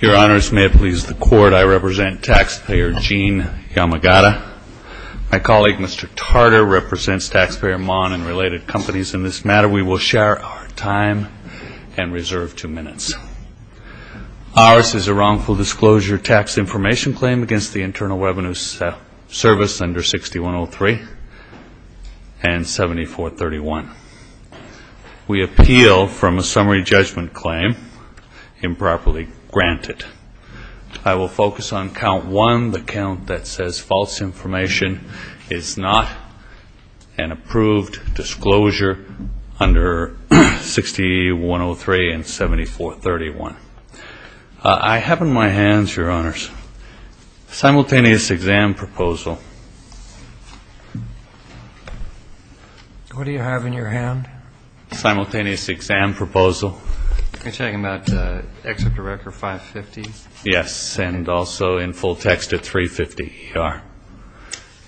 Your Honors, may it please the Court, I represent Taxpayer Gene Yamagata. My colleague Mr. Tarter represents Taxpayer Mon and related companies. In this matter we will share our time and reserve two minutes. Ours is a wrongful disclosure tax information claim against the Internal Revenue Service under 6103 and 7431. We appeal from a summary judgment claim improperly granted. I will focus on count 1, the count that says false information is not an approved disclosure under 6103 and 7431. I have in my hands, Your Honors, simultaneous exam proposal. What do you have in your hand? Simultaneous exam proposal. Are you talking about Excerpt of Record 550? Yes, and also in full text at 350.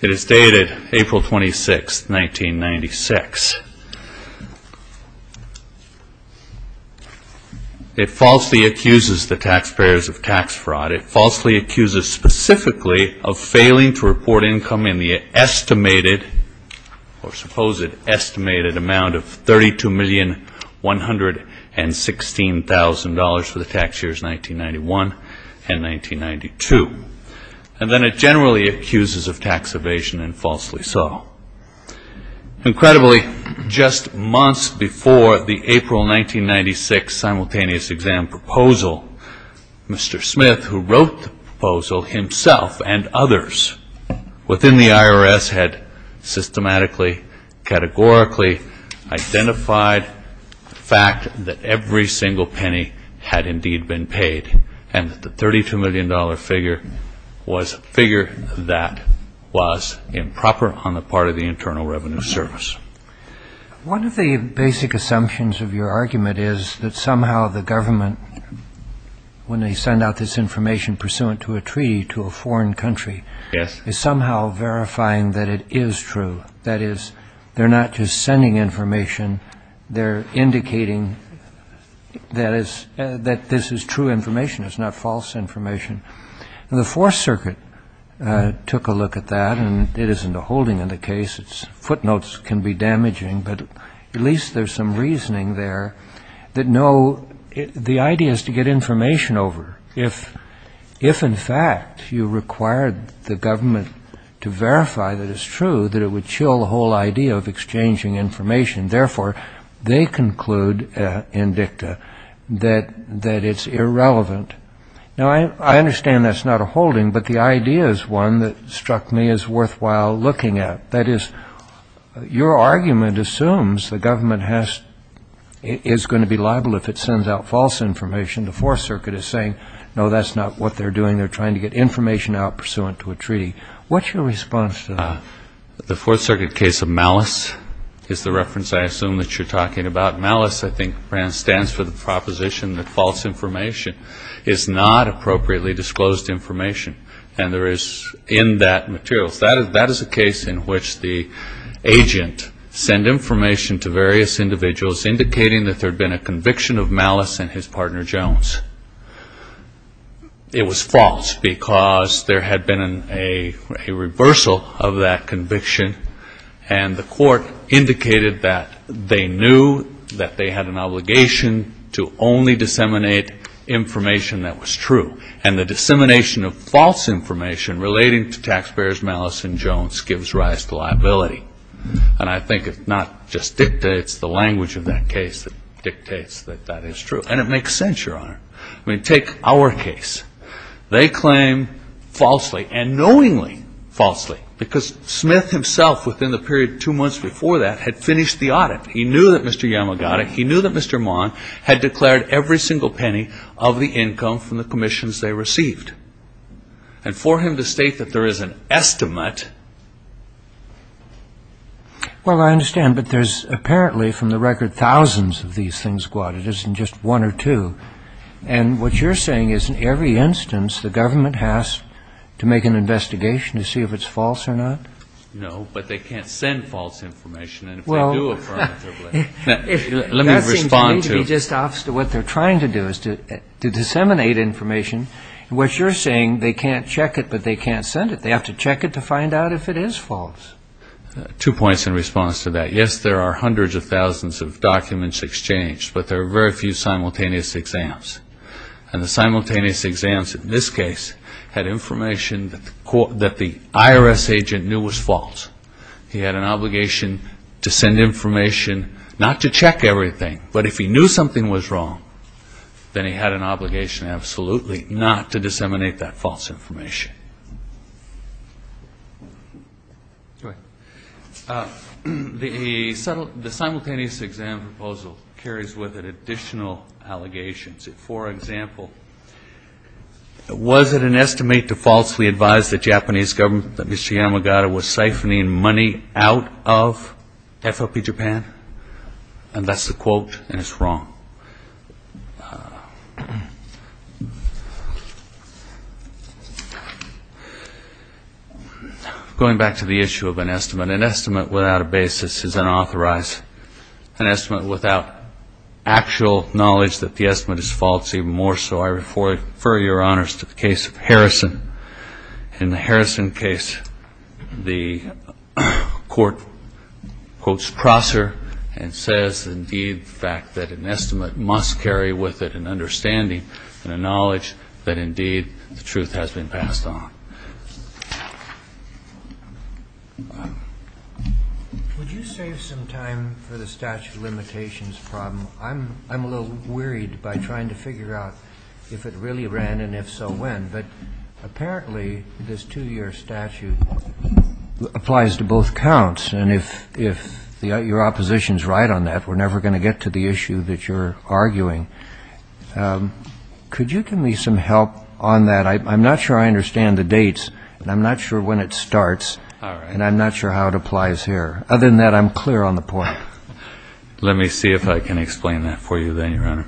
It is dated April 26, 1996. It falsely accuses the taxpayers of tax fraud. It falsely accuses specifically of failing to report income in the estimated or supposed estimated amount of $32,116,000 for the tax years 1991 and 1992. And then it generally accuses of tax evasion and falsely so. Incredibly, just months before the April 1996 simultaneous exam proposal, Mr. Smith, who wrote the proposal himself and others within the IRS had systematically categorically identified the fact that every single penny had indeed been paid and that the $32,116,000 figure was a figure that was improper on the part of the Internal Revenue Service. One of the basic assumptions of your argument is that somehow the government, when they send out this information pursuant to a treaty to a foreign country, is somehow verifying that it is true. That is, they're not just sending information. They're indicating that this is true information. It's not false information. The Fourth Circuit took a look at that and it isn't a holding in the case. Its footnotes can be damaging, but at least there's some reasoning there that no, the idea is to get information over. If in fact you required the government to verify that it's true, that it would chill the whole idea of exchanging information. Therefore, they conclude in dicta that it's irrelevant. Now I understand that's not a holding, but the idea is one that struck me as worthwhile looking at. That is, your argument assumes the government is going to be liable if it sends out false information. The Fourth Circuit is saying, no, that's not what they're doing. They're trying to get information out pursuant to a treaty. What's your response to that? The Fourth Circuit case of malice is the reference I assume that you're talking about. Malice, I think, stands for the proposition that false information is not appropriately disclosed information. And there is, in that material, that is a case in which the agent sent information to various individuals indicating that there had been a conviction of malice in his partner Jones. It was false because there had been a reversal of that conviction and the court indicated that they knew that they had an obligation to only disseminate information that was true. And the dissemination of false information relating to taxpayers' malice in Jones gives rise to liability. And I think it's not just dicta, it's the language of the courts. I mean, take our case. They claim falsely and knowingly falsely because Smith himself, within the period two months before that, had finished the audit. He knew that Mr. Yamagata, he knew that Mr. Maughan had declared every single penny of the income from the commissions they received. And for him to state that there is an estimate Well, I understand. But there's apparently, from the record, thousands of these things go out. It isn't just one or two. And what you're saying is, in every instance, the government has to make an investigation to see if it's false or not? No, but they can't send false information. And if they do affirmatively Well, that seems to me to be just opposite of what they're trying to do, is to disseminate information. What you're saying, they can't check it, but they can't send it. They have to check it to find out if it is false. Two points in response to that. Yes, there are hundreds of thousands of documents exchanged, but there are very few simultaneous exams. And the simultaneous exams, in this case, had information that the IRS agent knew was false. He had an obligation to send information, not to check everything, but if he knew something was wrong, then he had an obligation, absolutely, not to disseminate that false information. The simultaneous exam proposal carries with it additional allegations. For example, was it an estimate to falsely advise the Japanese government that Mr. Yamagata was siphoning money out of FOP Japan? And that's the quote, and it's wrong. Now, going back to the issue of an estimate, an estimate without a basis is unauthorized. An estimate without actual knowledge that the estimate is false, even more so, I refer your honors to the case of Harrison. In the Harrison case, the court quotes Prosser and says, indeed, the fact that an estimate must carry with it an understanding and a knowledge that, indeed, the truth has been passed on. Would you save some time for the statute of limitations problem? I'm a little worried by trying to figure out if it really ran, and if so, when. But apparently, this two-year statute applies to both counts, and if your opposition is right on that, we're never going to get to the issue that you're arguing. Could you give me some help on that? I'm not sure I understand the dates, and I'm not sure when it starts, and I'm not sure how it applies here. Other than that, I'm clear on the point. Let me see if I can explain that for you, then, your honor.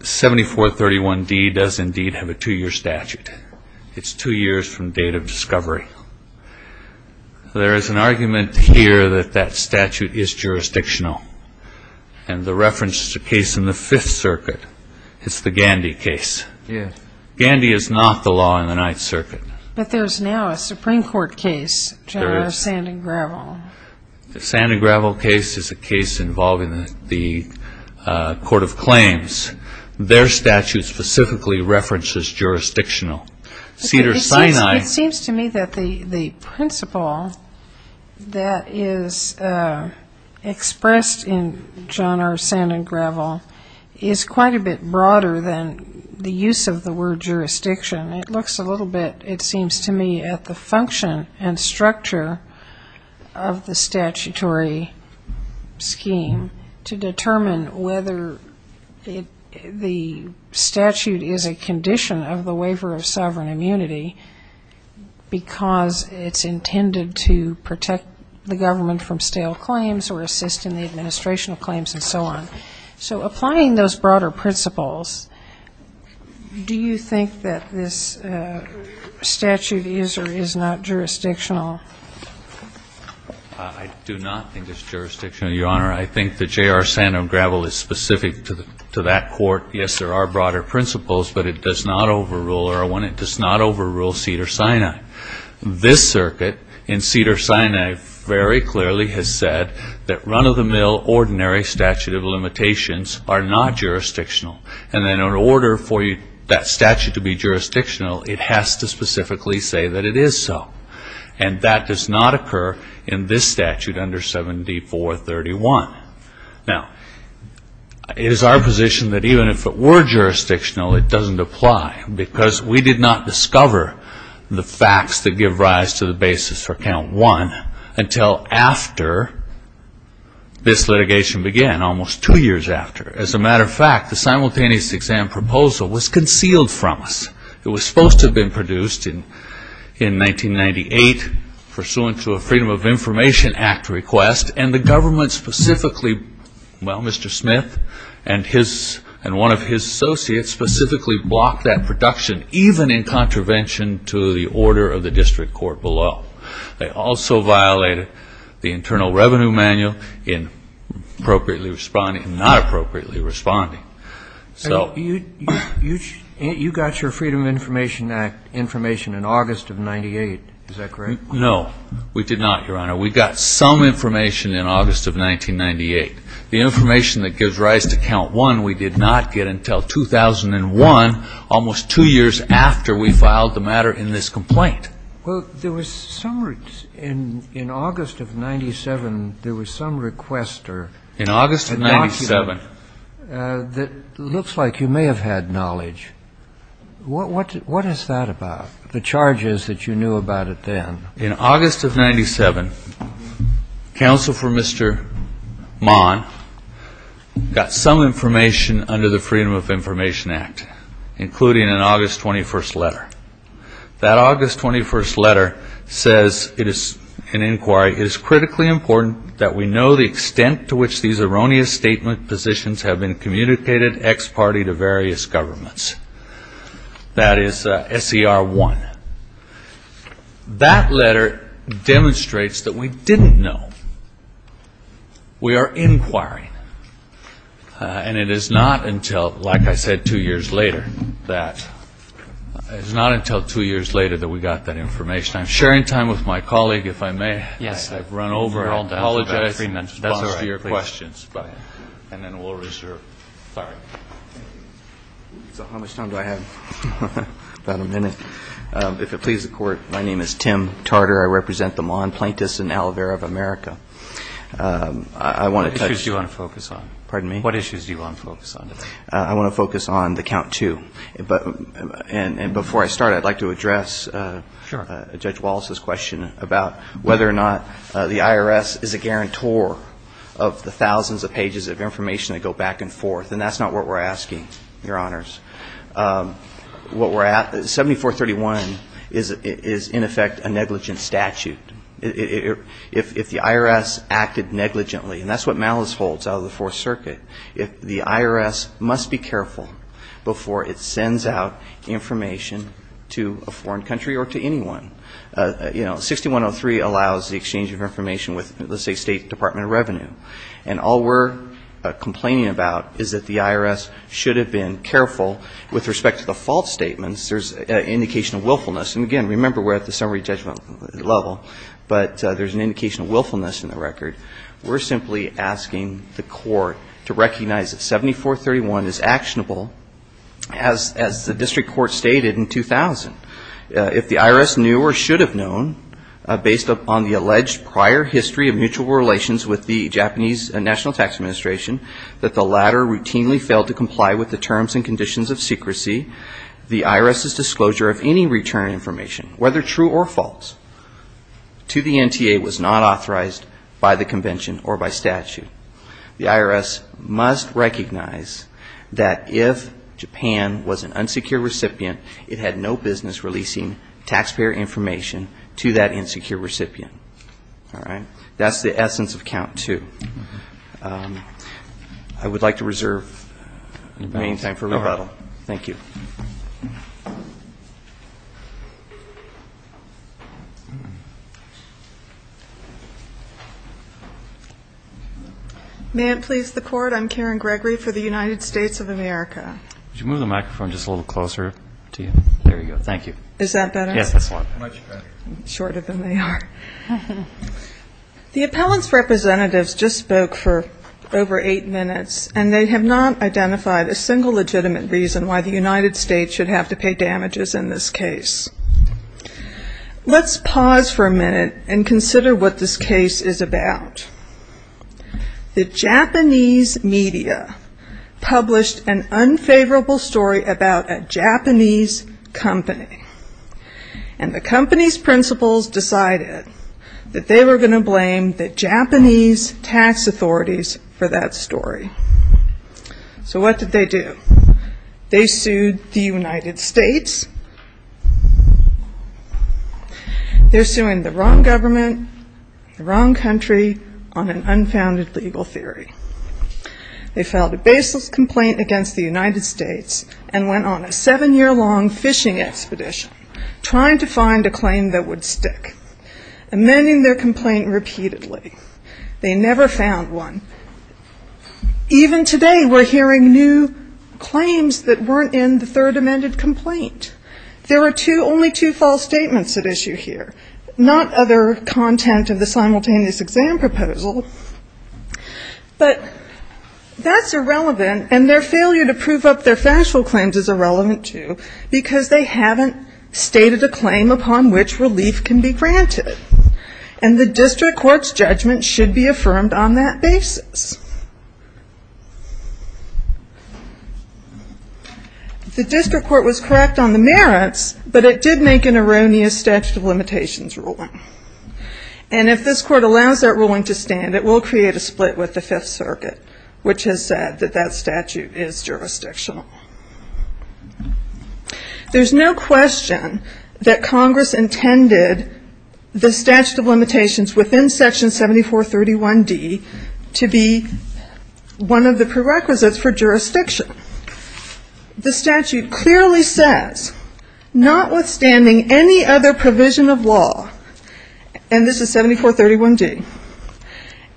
7431D does, indeed, have a two-year statute. It's two years from date of discovery. There is an argument here that that statute is jurisdictional, and the reference is a case in the Fifth Circuit. It's the Gandy case. Gandy is not the law in the Ninth Circuit. But there's now a Supreme Court case, General Sand and Gravel. The Sand and Gravel case is a case involving the Court of Claims. Their statute specifically references jurisdictional. Cedars-Sinai... It seems to me that the principle that is expressed in John R. Sand and Gravel is quite a bit broader than the use of the word jurisdiction. It looks a little bit, it seems to me, at the function and structure of the statutory scheme to determine whether the statute is a condition of the waiver of sovereign immunity because it's intended to protect the government from stale claims or assist in the administration of claims and so on. So applying those broader principles, do you think that this statute is or is not jurisdictional? I do not think it's jurisdictional, your honor. I think that J.R. Sand and Gravel is specific to that court. Yes, there are broader principles, but it does not overrule Irwin. It does not overrule Cedars-Sinai. This circuit in Cedars-Sinai very clearly has said that run-of-the-mill ordinary statute of limitations are not jurisdictional. And then in order for that statute to be jurisdictional, it has to specifically say that it is so. And that does not occur in this statute under 7D431. Now, it is our position that even if it were jurisdictional, it doesn't apply because we did not discover the facts that give rise to the basis for Count 1 until after this litigation began, almost two years after. As a matter of fact, the simultaneous exam proposal was concealed from us. It was supposed to have been produced in 1998 pursuant to a Freedom of Information Act request, and the government specifically, well, Mr. Smith and one of his associates specifically blocked that production even in contravention to the order of the district court below. They also violated the Internal Revenue Manual in not appropriately responding. You got your Freedom of Information Act information in August of 1998. Is that correct? No. We did not, Your Honor. We got some information in August of 1998. The information that gives rise to Count 1, we did not get until 2001, almost two years after we filed the matter in this complaint. Well, there was some req ---- in August of 97, there was some request or a document that looks like you may have had knowledge. What is that about, the charges that you knew about it then? In August of 97, counsel for Mr. Mahan got some information under the Freedom of Information Act, including an August 21st letter. That August 21st letter says, it is an inquiry, it is critically important that we know the extent to which these erroneous statement positions have been communicated ex parte to various governments. That is SCR 1. That letter demonstrates that we didn't know. We are inquiring. And it is not until, like I said, two years later that we got that information. I'm sharing time with my colleague, if I may. I've run over. I apologize in response to your questions, but, and then we'll reserve. Sorry. So how much time do I have? About a minute. If it pleases the Court, my name is Tim Tarter. I represent the Mahan Plaintiffs in Alavera of America. I want to touch ---- What issues do you want to focus on? Pardon me? What issues do you want to focus on today? I want to focus on the Count 2. And before I start, I'd like to address Judge Wallace's question about whether or not the IRS is a negligent statute. If the IRS acted negligently, and that's what malice holds out of the 4th Circuit, if the IRS must be careful before it sends out information to a foreign country or to anyone, you know, 6103 allows the exchange of information with, let's say, State Department of Revenue. And all we're complaining about is that the IRS should have been careful with respect to the false statements. There's indication of willfulness. And again, remember, we're at the summary judgment level, but there's an indication of willfulness in the record. We're simply asking the Court to recognize that 7431 is actionable, as the District Court stated in 2000. If the IRS knew or should have known, based upon the alleged prior history of mutual relations with the Japanese National Tax Administration, that the latter routinely failed to comply with the terms and conditions of secrecy, the IRS's disclosure of any return information, whether true or false, to the NTA was not authorized by the Convention or by statute. The IRS must recognize that if Japan was an unsecure recipient, it had no business releasing taxpayer information to that insecure recipient. All right? That's the essence of Count 2. I would like to reserve the remaining time for rebuttal. Thank you. May it please the Court, I'm Karen Gregory for the United States of America. Could you move the microphone just a little closer to you? There you go. Thank you. Is that better? Yes, that's a lot better. Much better. Shorter than they are. The appellant's representatives just spoke for over eight minutes, and they have not identified a single legitimate reason why the United States should have to pay damages in this case. Let's pause for a minute and consider what this case is about. The Japanese media published an unfavorable story about a Japanese company. And the company's principals decided that they were going to blame the Japanese tax authorities for that story. So what did they do? They sued the United States. They're suing the wrong government, the wrong legal theory. They filed a baseless complaint against the United States and went on a seven-year-long fishing expedition, trying to find a claim that would stick, amending their complaint repeatedly. They never found one. Even today we're hearing new claims that weren't in the third amended complaint. There are only two false statements at issue here, not other content of the simultaneous exam proposal. But that's irrelevant, and their failure to prove up their factual claims is irrelevant, too, because they haven't stated a claim upon which relief can be granted. And the district court's judgment should be affirmed on that basis. The district court was correct on the merits, but it did make an erroneous statute of limitations ruling. And if this court allows that ruling to stand, it will create a split with the Fifth Circuit, which has said that that statute is jurisdictional. There's no question that Congress intended the statute of limitations within Section 7431D to be one of the prerequisites for jurisdiction. The statute clearly says, notwithstanding any other provision of law, and this is 7431D,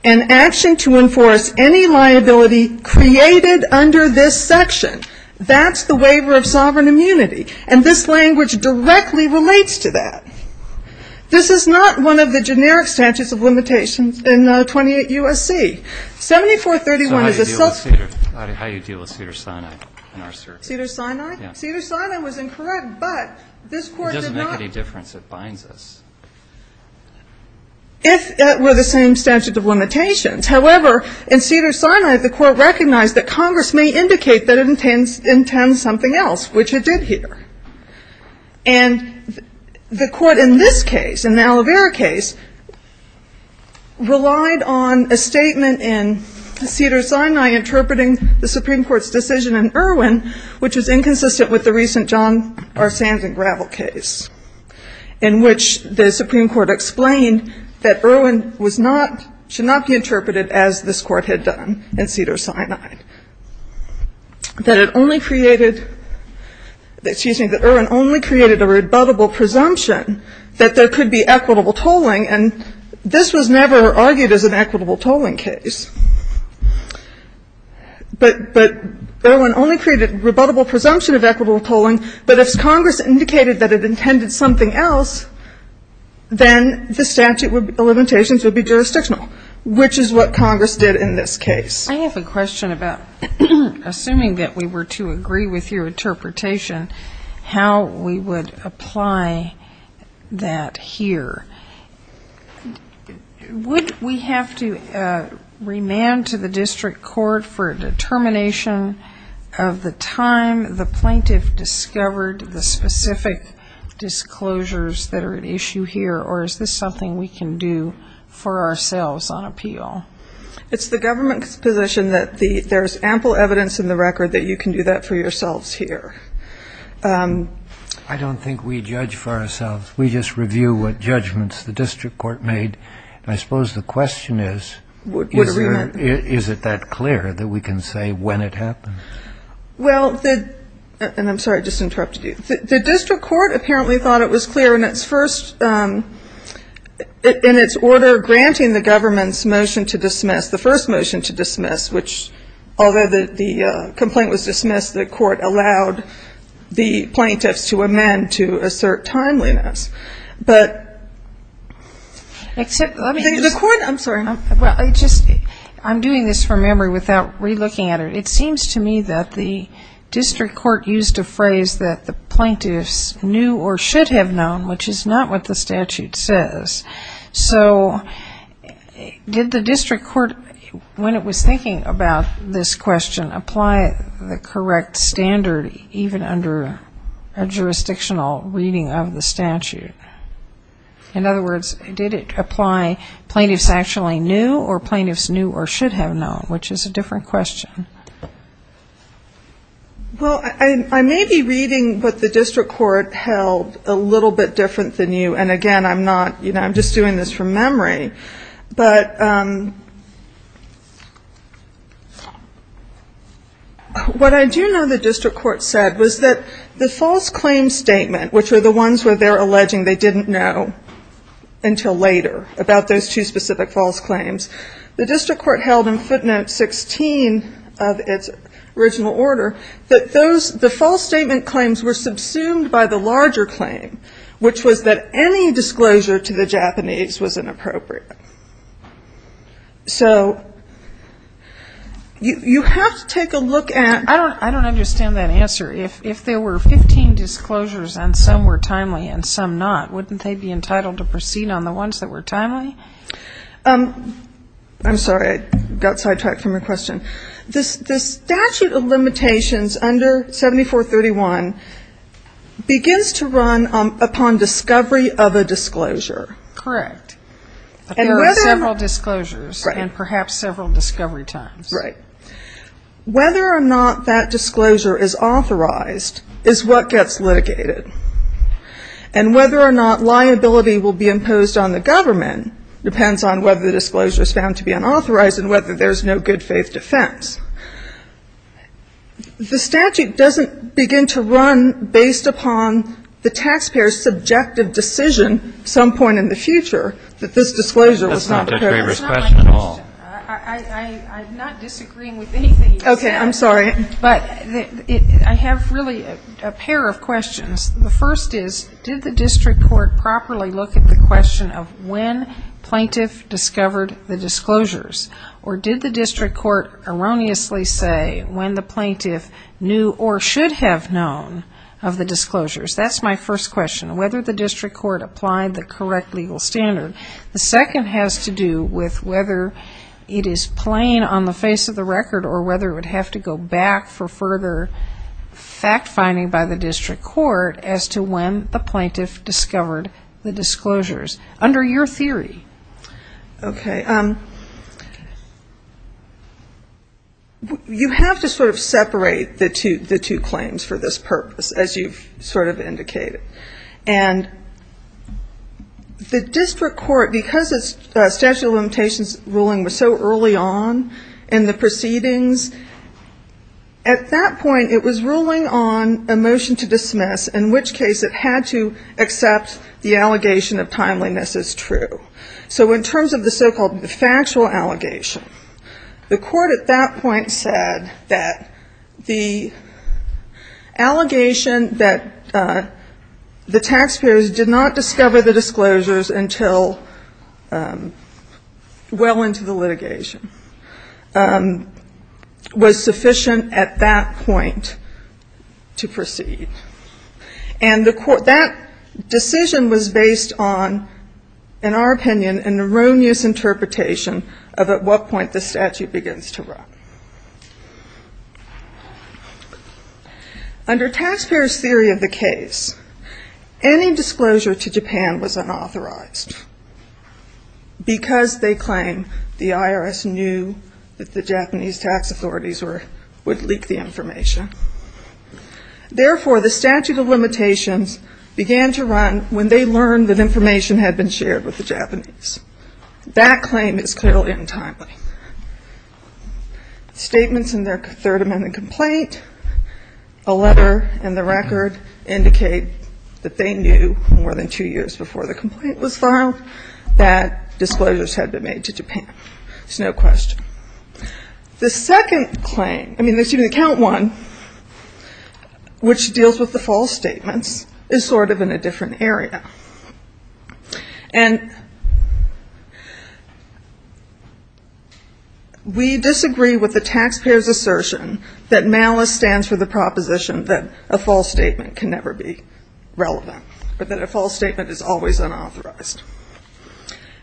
an action to enforce any liability created under this section, that's the waiver of sovereign immunity. And this language directly relates to that. This is not one of the generic statutes of limitations in 28 U.S.C. 7431 is a self- How do you deal with Cedars-Sinai in our circuit? Cedars-Sinai? Yes. Cedars-Sinai was incorrect, but this court did not It doesn't make any difference. It binds us. If it were the same statute of limitations. However, in Cedars-Sinai, the court recognized that Congress may indicate that it intends something else, which it did here. And the court in this case, in the Alavera case, relied on a statement in Cedars-Sinai interpreting the Supreme Court's decision in Irwin, which was inconsistent with the recent John R. Sands and Gravel case, in which the Supreme Court explained that Irwin was not, should not be interpreted as this court had done in Cedars-Sinai. That it only created, excuse me, that Irwin only created a rebuttable presumption that there could be equitable tolling, and this was never argued as an equitable tolling case. But Irwin only created rebuttable presumption of equitable tolling, but if Congress indicated that it intended something else, then the statute of limitations would be jurisdictional, which is what Congress did in this case. I have a question about, assuming that we were to agree with your interpretation, how we would apply that here. Would we have to remand to the district court for a determination of the time the plaintiff discovered the specific disclosures that are at issue here, or is this something we can do for ourselves on appeal? It's the government's position that there's ample evidence in the record that you can do that for yourselves here. I don't think we judge for ourselves. We just review what judgments the district court made, and I suppose the question is, is it that clear that we can say when it happened? Well, the, and I'm sorry, I just interrupted you. The district court apparently thought it was clear in its first, in its order granting the government's motion to dismiss, the first motion to dismiss, which, although the complaint was dismissed, the court allowed the plaintiffs to amend to assert timeliness, but... Except, let me just... The court, I'm sorry. Well, I just, I'm doing this from memory without relooking at it. It seems to me that the district court used a phrase that the plaintiffs knew or should have known, which is not what the statute says. So did the district court, when it was thinking about this question, apply the correct standard even under a jurisdictional reading of the statute? In other words, did it apply plaintiffs actually knew or plaintiffs knew or should have known, which is a different question. Well, I may be reading what the district court held a little bit different than you, and again, I'm not, you know, I'm just doing this from memory, but what I do know the district court said was that the false claim statement, which were the ones where they're alleging they didn't know until later about those two specific false claims, the district court held in footnote 16 of its original order that those, the false statement claims were subsumed by the larger claim, which was that any disclosure to the Japanese was inappropriate. So you have to take a look at... I don't understand that answer. If there were 15 disclosures and some were timely and some not, wouldn't they be submitted? I'm sorry. I got sidetracked from your question. The statute of limitations under 7431 begins to run upon discovery of a disclosure. Correct. There are several disclosures and perhaps several discovery times. Right. Whether or not that disclosure is authorized is what gets litigated. And whether or not liability will be imposed on the disclosure is found to be unauthorized and whether there's no good faith defense. The statute doesn't begin to run based upon the taxpayer's subjective decision some point in the future that this disclosure was not... Okay. I'm sorry. But I have really a pair of questions. The first is, did the district court properly look at the question of when plaintiff discovered the disclosures? Or did the district court erroneously say when the plaintiff knew or should have known of the disclosures? That's my first question, whether the district court applied the correct legal standard. The second has to do with whether it is plain on the face of the record or whether it would have to go back for further fact-finding by the district court as to when the plaintiff discovered the disclosures. Okay. You have to sort of separate the two claims for this purpose, as you've sort of indicated. And the district court, because the statute of limitations ruling was so early on in the proceedings, at that point it was ruling on a motion to dismiss, in which case it had to accept the allegation of timeliness as true. So in terms of the so-called factual allegation, the court at that point said that the allegation that the taxpayers did not discover the disclosures until well into the litigation was sufficient at that point to proceed. And that decision was based on, in our opinion, an erroneous interpretation of at what point the statute begins to run. Under taxpayers' theory of the case, any disclosure to Japan was unauthorized, because they claim the IRS knew that the Japanese tax authorities would leak the information. So the statute of limitations began to run when they learned that information had been shared with the Japanese. That claim is clearly untimely. Statements in their third amendment complaint, a letter and the record indicate that they knew more than two years before the complaint was filed that disclosures had been made to Japan. There's no question. The second claim, I mean, excuse me, the count one, which deals with the false statements, is sort of in a different area. And we disagree with the taxpayers' assertion that MALIS stands for the proposition that a false statement can never be relevant, or that a false statement is always unauthorized.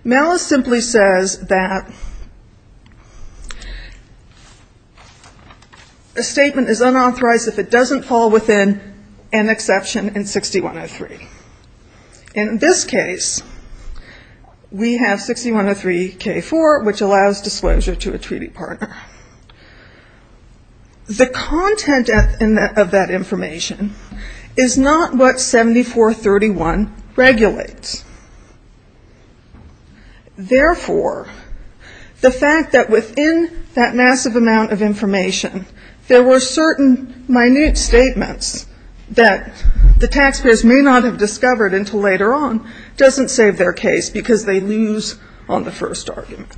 MALIS simply says that a statement is unauthorized if it doesn't fall within an exception in 6103. In this case, we have 6103K4, which allows disclosure to a treaty partner. The content of that information is not what 7431 regulates. Therefore, the fact that within that massive amount of information there were certain minute statements that the taxpayers may not have discovered until later on doesn't save their case because they lose on the first argument.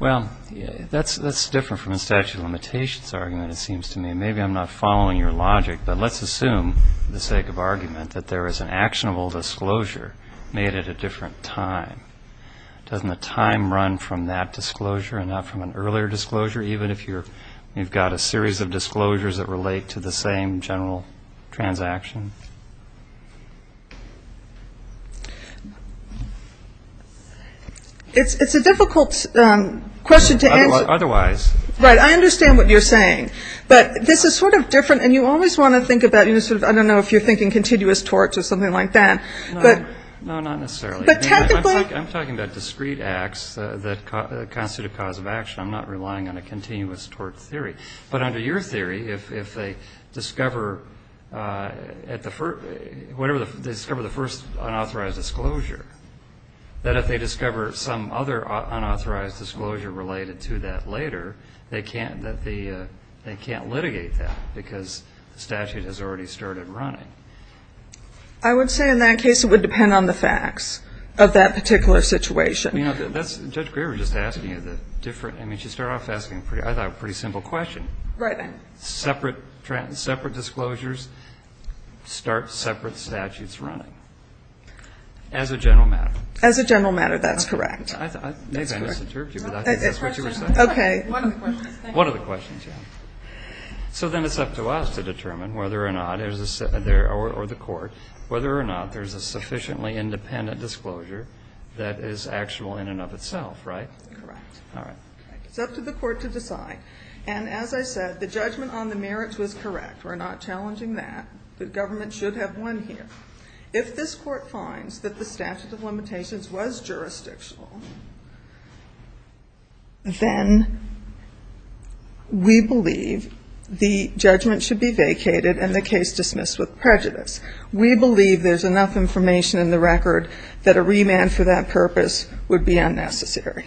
Well, that's different from the statute of limitations argument, it seems to me. Maybe I'm not following your logic, but let's assume for the sake of argument that there is an actionable disclosure made at a different time, doesn't the time run from that disclosure and not from an earlier disclosure, even if you've got a series of disclosures that relate to the same general transaction? It's a difficult question to answer. Otherwise. Right, I understand what you're saying, but this is sort of different, and you always want to think about, I don't know if you're thinking continuous torts or something like that. I'm talking about discrete acts that constitute a cause of action, I'm not relying on a continuous tort theory. But under your theory, if they discover the first unauthorized disclosure, that if they discover some other unauthorized disclosure related to that later, they can't litigate that because the statute has already started running. I would say in that case it would depend on the facts of that particular situation. Judge Greer was just asking a different, I mean, she started off asking, I thought, a pretty simple question. Right. Separate disclosures start separate statutes running, as a general matter. As a general matter, that's correct. One of the questions. So then it's up to us to determine whether or not, or the court, whether or not there's a sufficiently independent disclosure that is actual in and of itself, right? Correct. All right. It's up to the court to decide. And as I said, the judgment on the merits was correct. We're not challenging that. The government should have won here. If this court finds that the statute of limitations was jurisdictional, then we believe the judgment should be vacated and the case dismissed with prejudice. We believe there's enough information in the record that a remand for that purpose would be unnecessary.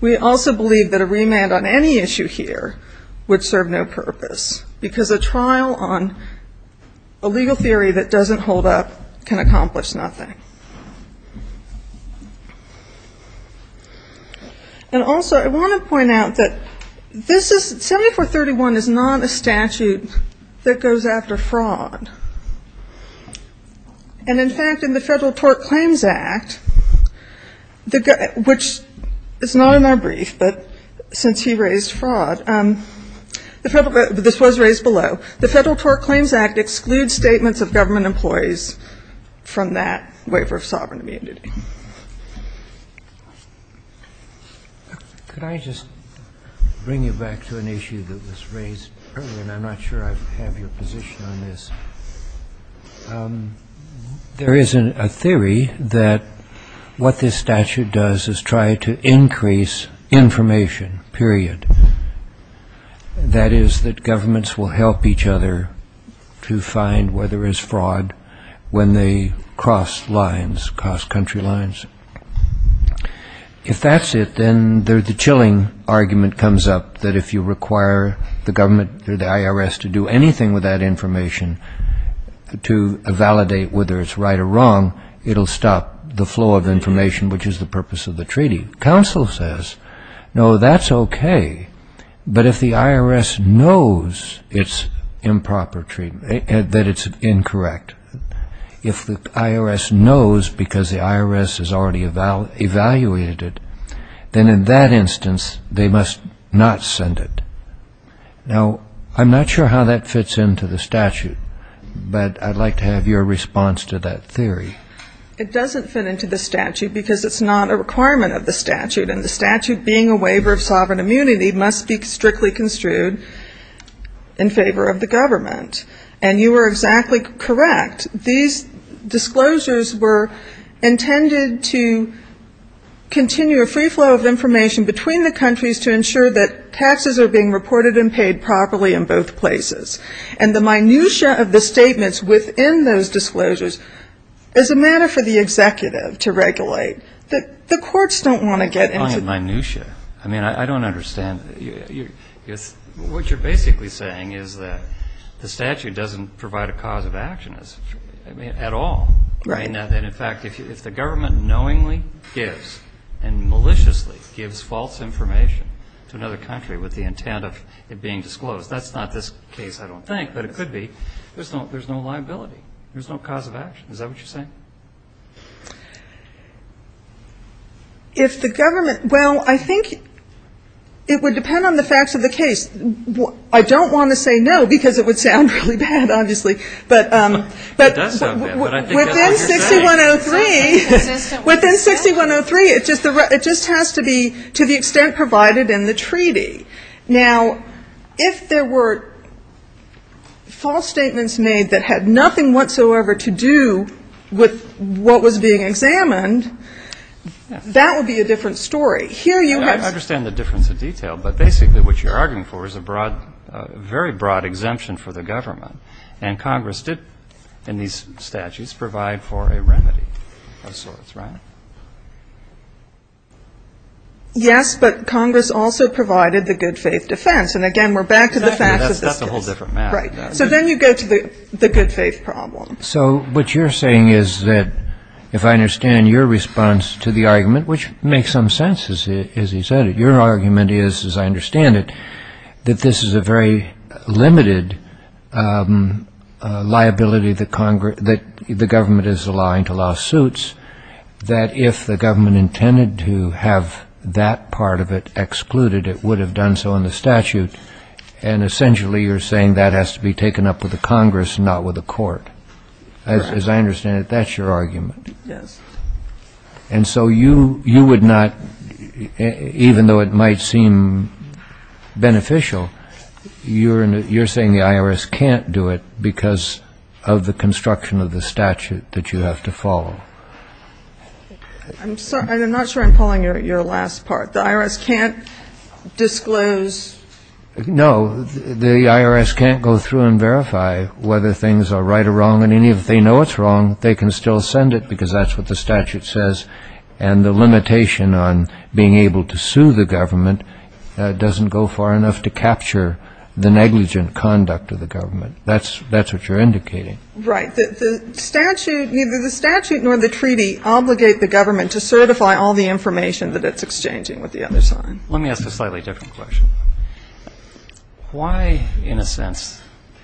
We also believe that a remand on any issue here would serve no purpose, because a trial on a legal theory that doesn't hold up can accomplish nothing. And also, I want to point out that this is, 7431 is not a statute that goes after fraud. And in fact, in the Federal Tort Claims Act, which is not in our brief, but since he raised fraud, this was raised below, the Federal Tort Claims Act excludes statements of government employees from that waiver of sovereign immunity. Could I just bring you back to an issue that was raised earlier, and I'm not sure I have your position on this? There is a theory that what this statute does is try to increase information, period. That is, that governments will help each other to find where there is fraud when they cross lines, cross country lines. If that's it, then the chilling argument comes up that if you require the government or the IRS to do anything with that information to validate whether it's right or wrong, it'll stop the flow of information, which is the purpose of the treaty. Counsel says, no, that's okay, but if the IRS knows it's improper treatment, that it's incorrect, if the IRS knows because the IRS has already evaluated it, then in that instance, they must not send it. Now, I'm not sure how that fits into the statute, but I'd like to have your response to that theory. It doesn't fit into the statute because it's not a requirement of the statute, and the statute being a waiver of sovereign immunity must be strictly construed in favor of the government. And you were exactly correct. These disclosures were intended to continue a free flow of information between the countries to ensure that taxes are being reported and paid properly in both places. And the minutia of the statements within those disclosures is a matter for the executive to regulate. The courts don't want to get into that. I don't understand. What you're basically saying is that the statute doesn't provide a cause of action at all. Right. I'm saying that, in fact, if the government knowingly gives and maliciously gives false information to another country with the intent of it being disclosed, that's not this case, I don't think, but it could be. There's no liability. There's no cause of action. Is that what you're saying? If the government, well, I think it would depend on the facts of the case. I don't want to say no, because it would sound really bad, obviously. But within 6103, within 6103, it just has to be to the extent provided in the treaty. Now, if there were false statements made that had nothing whatsoever to do with the facts of the case, what was being examined, that would be a different story. I understand the difference of detail, but basically what you're arguing for is a very broad exemption for the government. And Congress did, in these statutes, provide for a remedy of sorts, right? Yes, but Congress also provided the good faith defense. And again, we're back to the facts of the case. So then you go to the good faith problem. So what you're saying is that if I understand your response to the argument, which makes some sense, as he said it, your argument is, as I understand it, that this is a very limited liability that the government is allowing to lawsuits, that if the government intended to have that part of it excluded, it would have done so in the statute. And essentially you're saying that has to be taken up with the Congress, not with the court. As I understand it, that's your argument. And so you would not, even though it might seem beneficial, you're saying the IRS can't do it because of the construction of the statute that you have to follow. I'm not sure I'm following your last part. The IRS can't disclose? No, the IRS can't go through and verify whether things are right or wrong. And even if they know it's wrong, they can still send it because that's what the statute says. And the limitation on being able to sue the government doesn't go far enough to capture the negligent conduct of the government. That's what you're indicating. Right. The statute, neither the statute nor the treaty obligate the government to certify all the information that it's exchanging with the other side. Let me ask a slightly different question. Why, in a sense,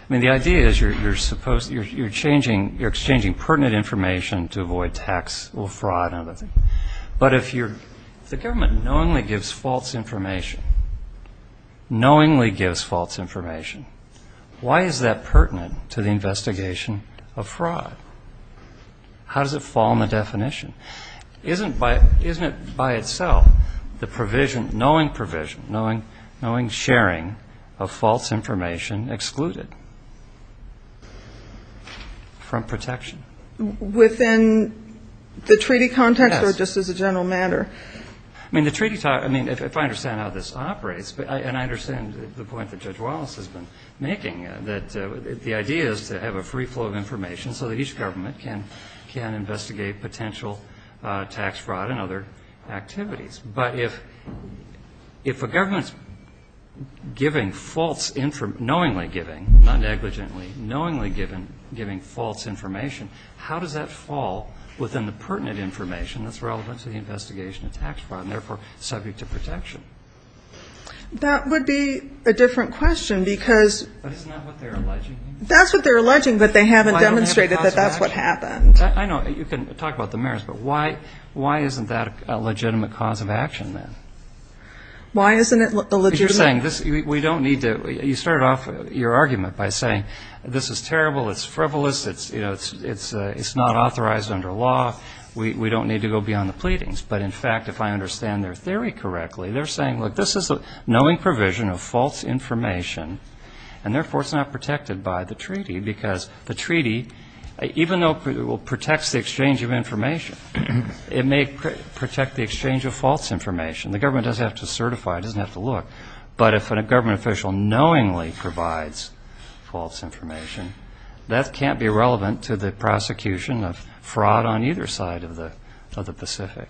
I mean, the idea is you're changing, you're exchanging pertinent information to avoid tax or fraud and other things. But if the government knowingly gives false information, knowingly gives false information, why is that pertinent to the investigation of fraud? How does it fall in the definition? Isn't it by itself the provision, knowing provision, knowing sharing of false information excluded from protection? Within the treaty context or just as a general matter? I mean, the treaty, I mean, if I understand how this operates, and I understand the point that Judge Wallace has been making, that the idea is to have a free flow of information so that each government can investigate potential tax fraud and other activities. But if a government's giving false, knowingly giving, not negligently, knowingly giving false information, why is that important? How does that fall within the pertinent information that's relevant to the investigation of tax fraud and, therefore, subject to protection? That would be a different question, because that's what they're alleging, but they haven't demonstrated that that's what happened. I know you can talk about the merits, but why isn't that a legitimate cause of action then? Why isn't it a legitimate cause of action? You started off your argument by saying this is terrible, it's frivolous, it's not authorized under law, we don't need to go beyond the pleadings. But, in fact, if I understand their theory correctly, they're saying, look, this is a knowing provision of false information, and, therefore, it's not protected by the treaty, because the treaty, even though it protects the exchange of information, it may protect the exchange of false information, the government doesn't have to certify, it doesn't have to look, but if a government official knowingly provides false information, that can't be relevant to the prosecution of fraud on either side of the Pacific.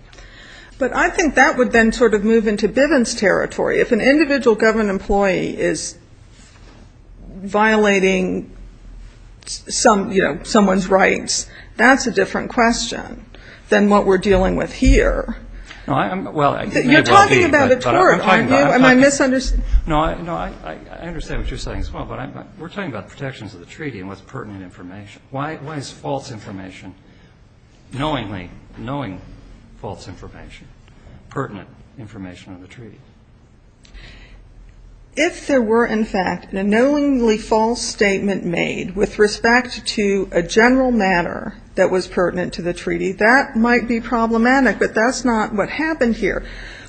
But I think that would then sort of move into Bivens territory. If an individual government employee is violating someone's rights, that's a different question than what we're dealing with here. You're talking about a tort, aren't you? No, I understand what you're saying as well, but we're talking about protections of the treaty and what's pertinent information. Why is false information, knowingly knowing false information, pertinent information on the treaty? If there were, in fact, a knowingly false statement made with respect to a general manner that was pertinent to the treaty, that might be problematic, but that's not what happened here.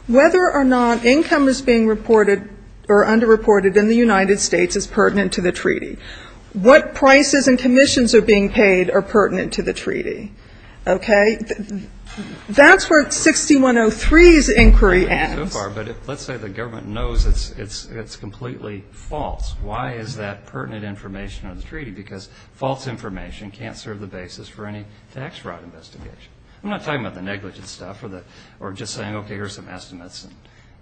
Whether or not income is being reported or underreported in the United States is pertinent to the treaty. What prices and commissions are being paid are pertinent to the treaty. Okay? That's where 6103's inquiry ends. So far, but let's say the government knows it's completely false. Why is that pertinent information on the treaty? Because false information can't serve the basis for any tax fraud investigation. I'm not talking about the negligent stuff or just saying, okay, here are some estimates,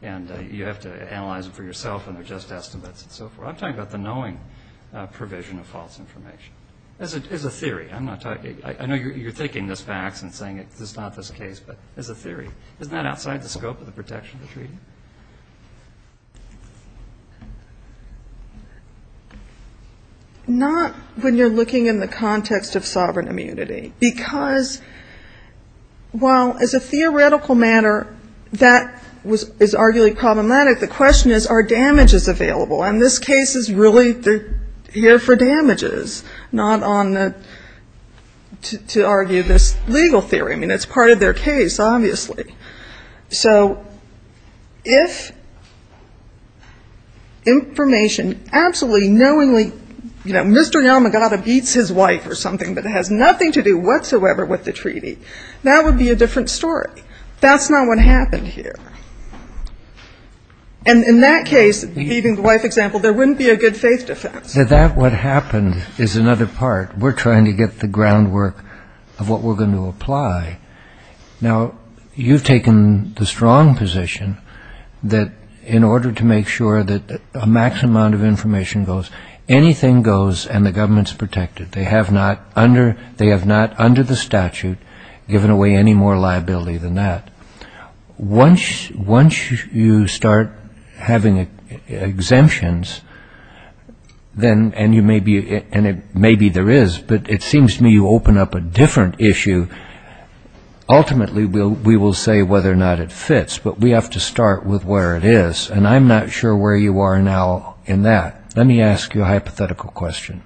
and you have to analyze them for yourself, and they're just estimates and so forth. I'm talking about the knowing provision of false information. It's a theory. I know you're taking this back and saying it's not this case, but it's a theory. Isn't that outside the scope of the protection of the treaty? Not when you're looking in the context of sovereign immunity, because while as a theoretical matter, that is arguably problematic, the question is, are damages available? And this case is really here for damages, not on the to argue this legal theory. I mean, it's part of their case, obviously. So if information absolutely knowingly, you know, Mr. Yamagata beats his wife or something, but it has nothing to do whatsoever with the treaty, that would be a different story. That's not what happened here. And in that case, even the wife example, there wouldn't be a good faith defense. That what happened is another part. We're trying to get the groundwork of what we're going to apply. Now, you've taken the strong position that in order to make sure that a max amount of information goes, anything goes and the government's protected. They have not, under the statute, given away any more liability than that. Once you start having exemptions, and maybe there is, but it seems to me you open up a different issue, ultimately we will say whether or not it fits, but we have to start with where it is, and I'm not sure where you are now in that. Let me ask you a hypothetical question.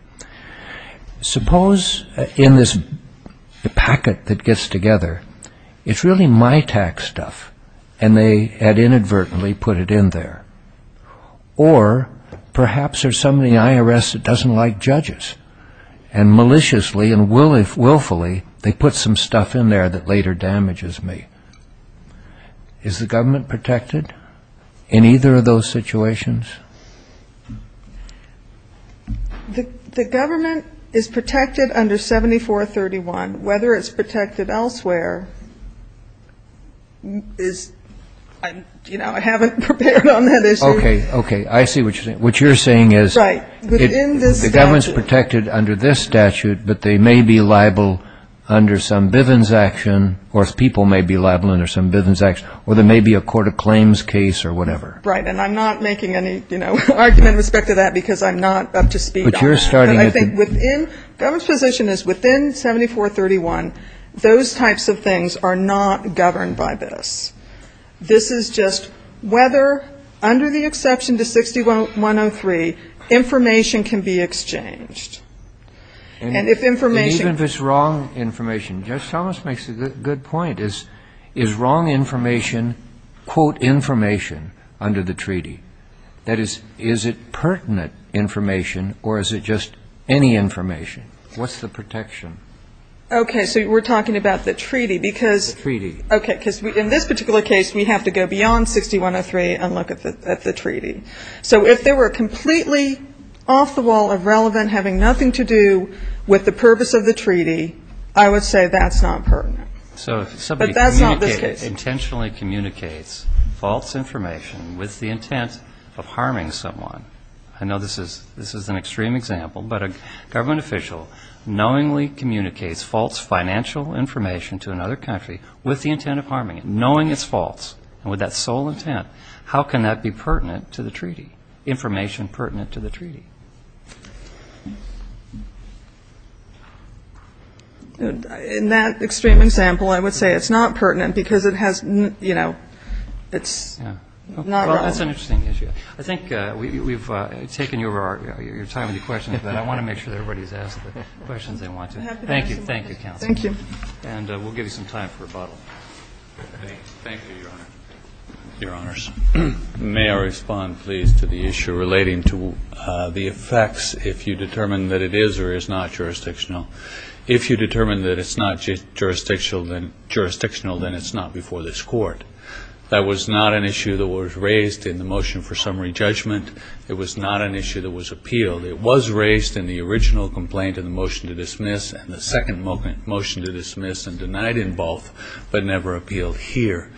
Suppose in this packet that gets together, it's really my tax stuff, and they had inadvertently put it in there. Or perhaps there's somebody in the IRS that doesn't like judges, and maliciously and willfully they put some stuff in there that later damages me. Is the government protected in either of those situations? The government is protected under 7431. Whether it's protected elsewhere is, you know, I haven't prepared on that issue. Okay, okay, I see what you're saying. What you're saying is the government's protected under this statute, but they may be liable under some Bivens action, or people may be liable under some Bivens action, or there may be a court of claims case or whatever. Right, and I'm not making any, you know, argument with respect to that because I'm not up to speed on that. But you're starting at the... The government's position is within 7431, those types of things are not governed by this. This is just whether, under the exception to 6103, information can be exchanged. And if information... And even if it's wrong information. Judge Thomas makes a good point. Is wrong information, quote, information under the treaty? That is, is it pertinent information, or is it just any information? What's the protection? Okay, so we're talking about the treaty because... So if there were completely off the wall, irrelevant, having nothing to do with the purpose of the treaty, I would say that's not pertinent. But that's not the case. So if somebody intentionally communicates false information with the intent of harming someone, I know this is an extreme example, but a government official knowingly communicates false financial information to another country with the intent of harming it, and with that sole intent, how can that be pertinent to the treaty, information pertinent to the treaty? In that extreme example, I would say it's not pertinent because it has, you know, it's not relevant. Well, that's an interesting issue. I think we've taken your time with your questions, but I want to make sure everybody's asked the questions they want to. Thank you. And we'll give you some time for rebuttal. Thank you, Your Honor. Your Honors, may I respond, please, to the issue relating to the effects, if you determine that it is or is not jurisdictional. If you determine that it's not jurisdictional, then it's not before this Court. That was not an issue that was raised in the motion for summary judgment. It was not an issue that was appealed. It was raised in the original complaint in the motion to dismiss and the second motion to dismiss and denied in both, but never appealed here.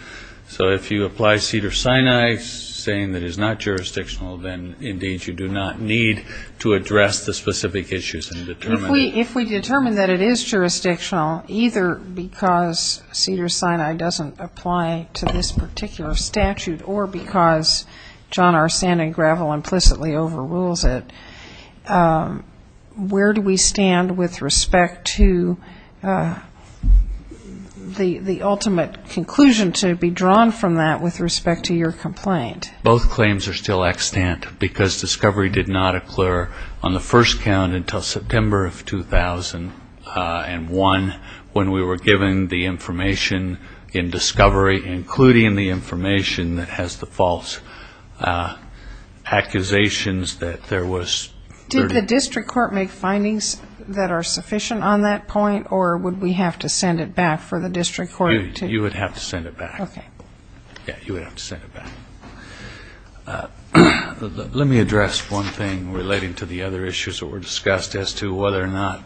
So if you apply Cedars-Sinai, saying that it's not jurisdictional, then, indeed, you do not need to address the specific issues and determine it. If you determine that it is jurisdictional, either because Cedars-Sinai doesn't apply to this particular statute or because John R. Sand and Gravel implicitly overrules it, where do we stand with respect to the ultimate conclusion to be drawn from that with respect to your complaint? Both claims are still extant because discovery did not occur on the first count until September of 2000. And one, when we were given the information in discovery, including the information that has the false accusations that there was... Did the district court make findings that are sufficient on that point, or would we have to send it back for the district court to... You would have to send it back. Let me address one thing relating to the other issues that were discussed as to whether or not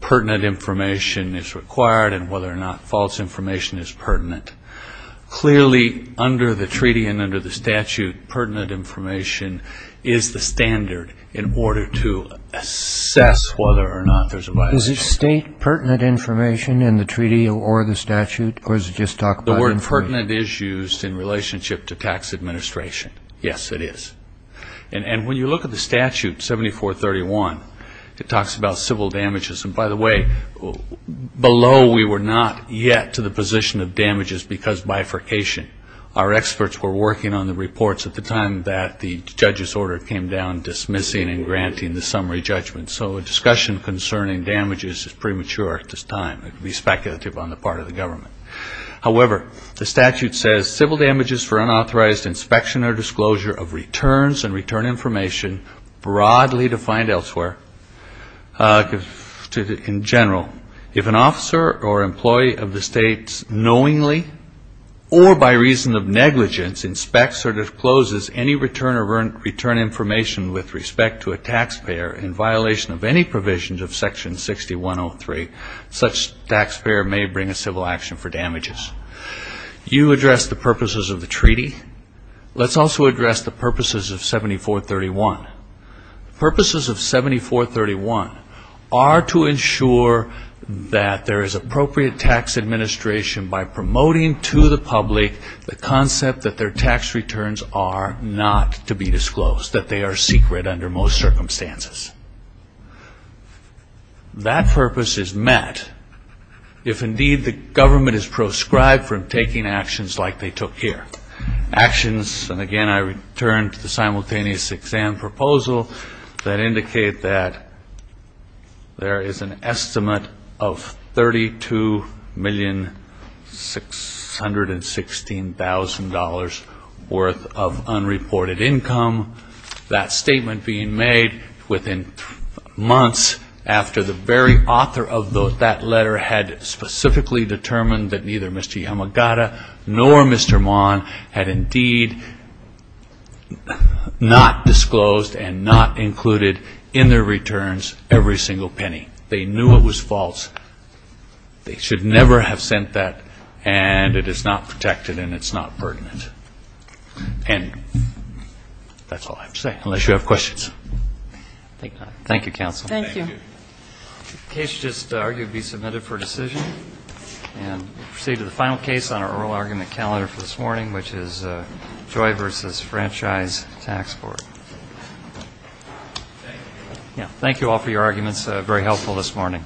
pertinent information is required and whether or not false information is pertinent. Clearly, under the treaty and under the statute, pertinent information is the standard in order to assess whether or not there's a violation. Is it state pertinent information in the treaty or the statute? The word pertinent is used in relationship to tax administration. Yes, it is. And when you look at the statute, 7431, it talks about civil damages. And by the way, below we were not yet to the position of damages because bifurcation. Our experts were working on the reports at the time that the judge's order came down dismissing and granting the summary judgment. So a discussion concerning damages is premature at this time. It would be speculative on the part of the government. However, the statute says civil damages for unauthorized inspection or disclosure of returns and return information broadly defined elsewhere. In general, if an officer or employee of the states knowingly or by reason of negligence inspects or discloses any return information with respect to a taxpayer in violation of any provisions of Section 6103, such taxpayer may bring a civil action for damages. You addressed the purposes of the treaty. Let's also address the purposes of 7431. Purposes of 7431 are to ensure that there is appropriate tax administration by promoting to the public the concept that their tax returns are not to be disclosed, that they are secret under most circumstances. That purpose is met if indeed the government is proscribed from taking actions like they took here. And again, I return to the simultaneous exam proposal that indicate that there is an estimate of $32,616,000 worth of unreported income. That statement being made within months after the very author of that letter had specifically determined that neither Mr. Yamagata nor Mr. Maughan had indeed been not disclosed and not included in their returns every single penny. They knew it was false. They should never have sent that, and it is not protected and it's not pertinent. And that's all I have to say, unless you have questions. Thank you, Counsel. Thank you. Thank you all for your arguments, very helpful this morning.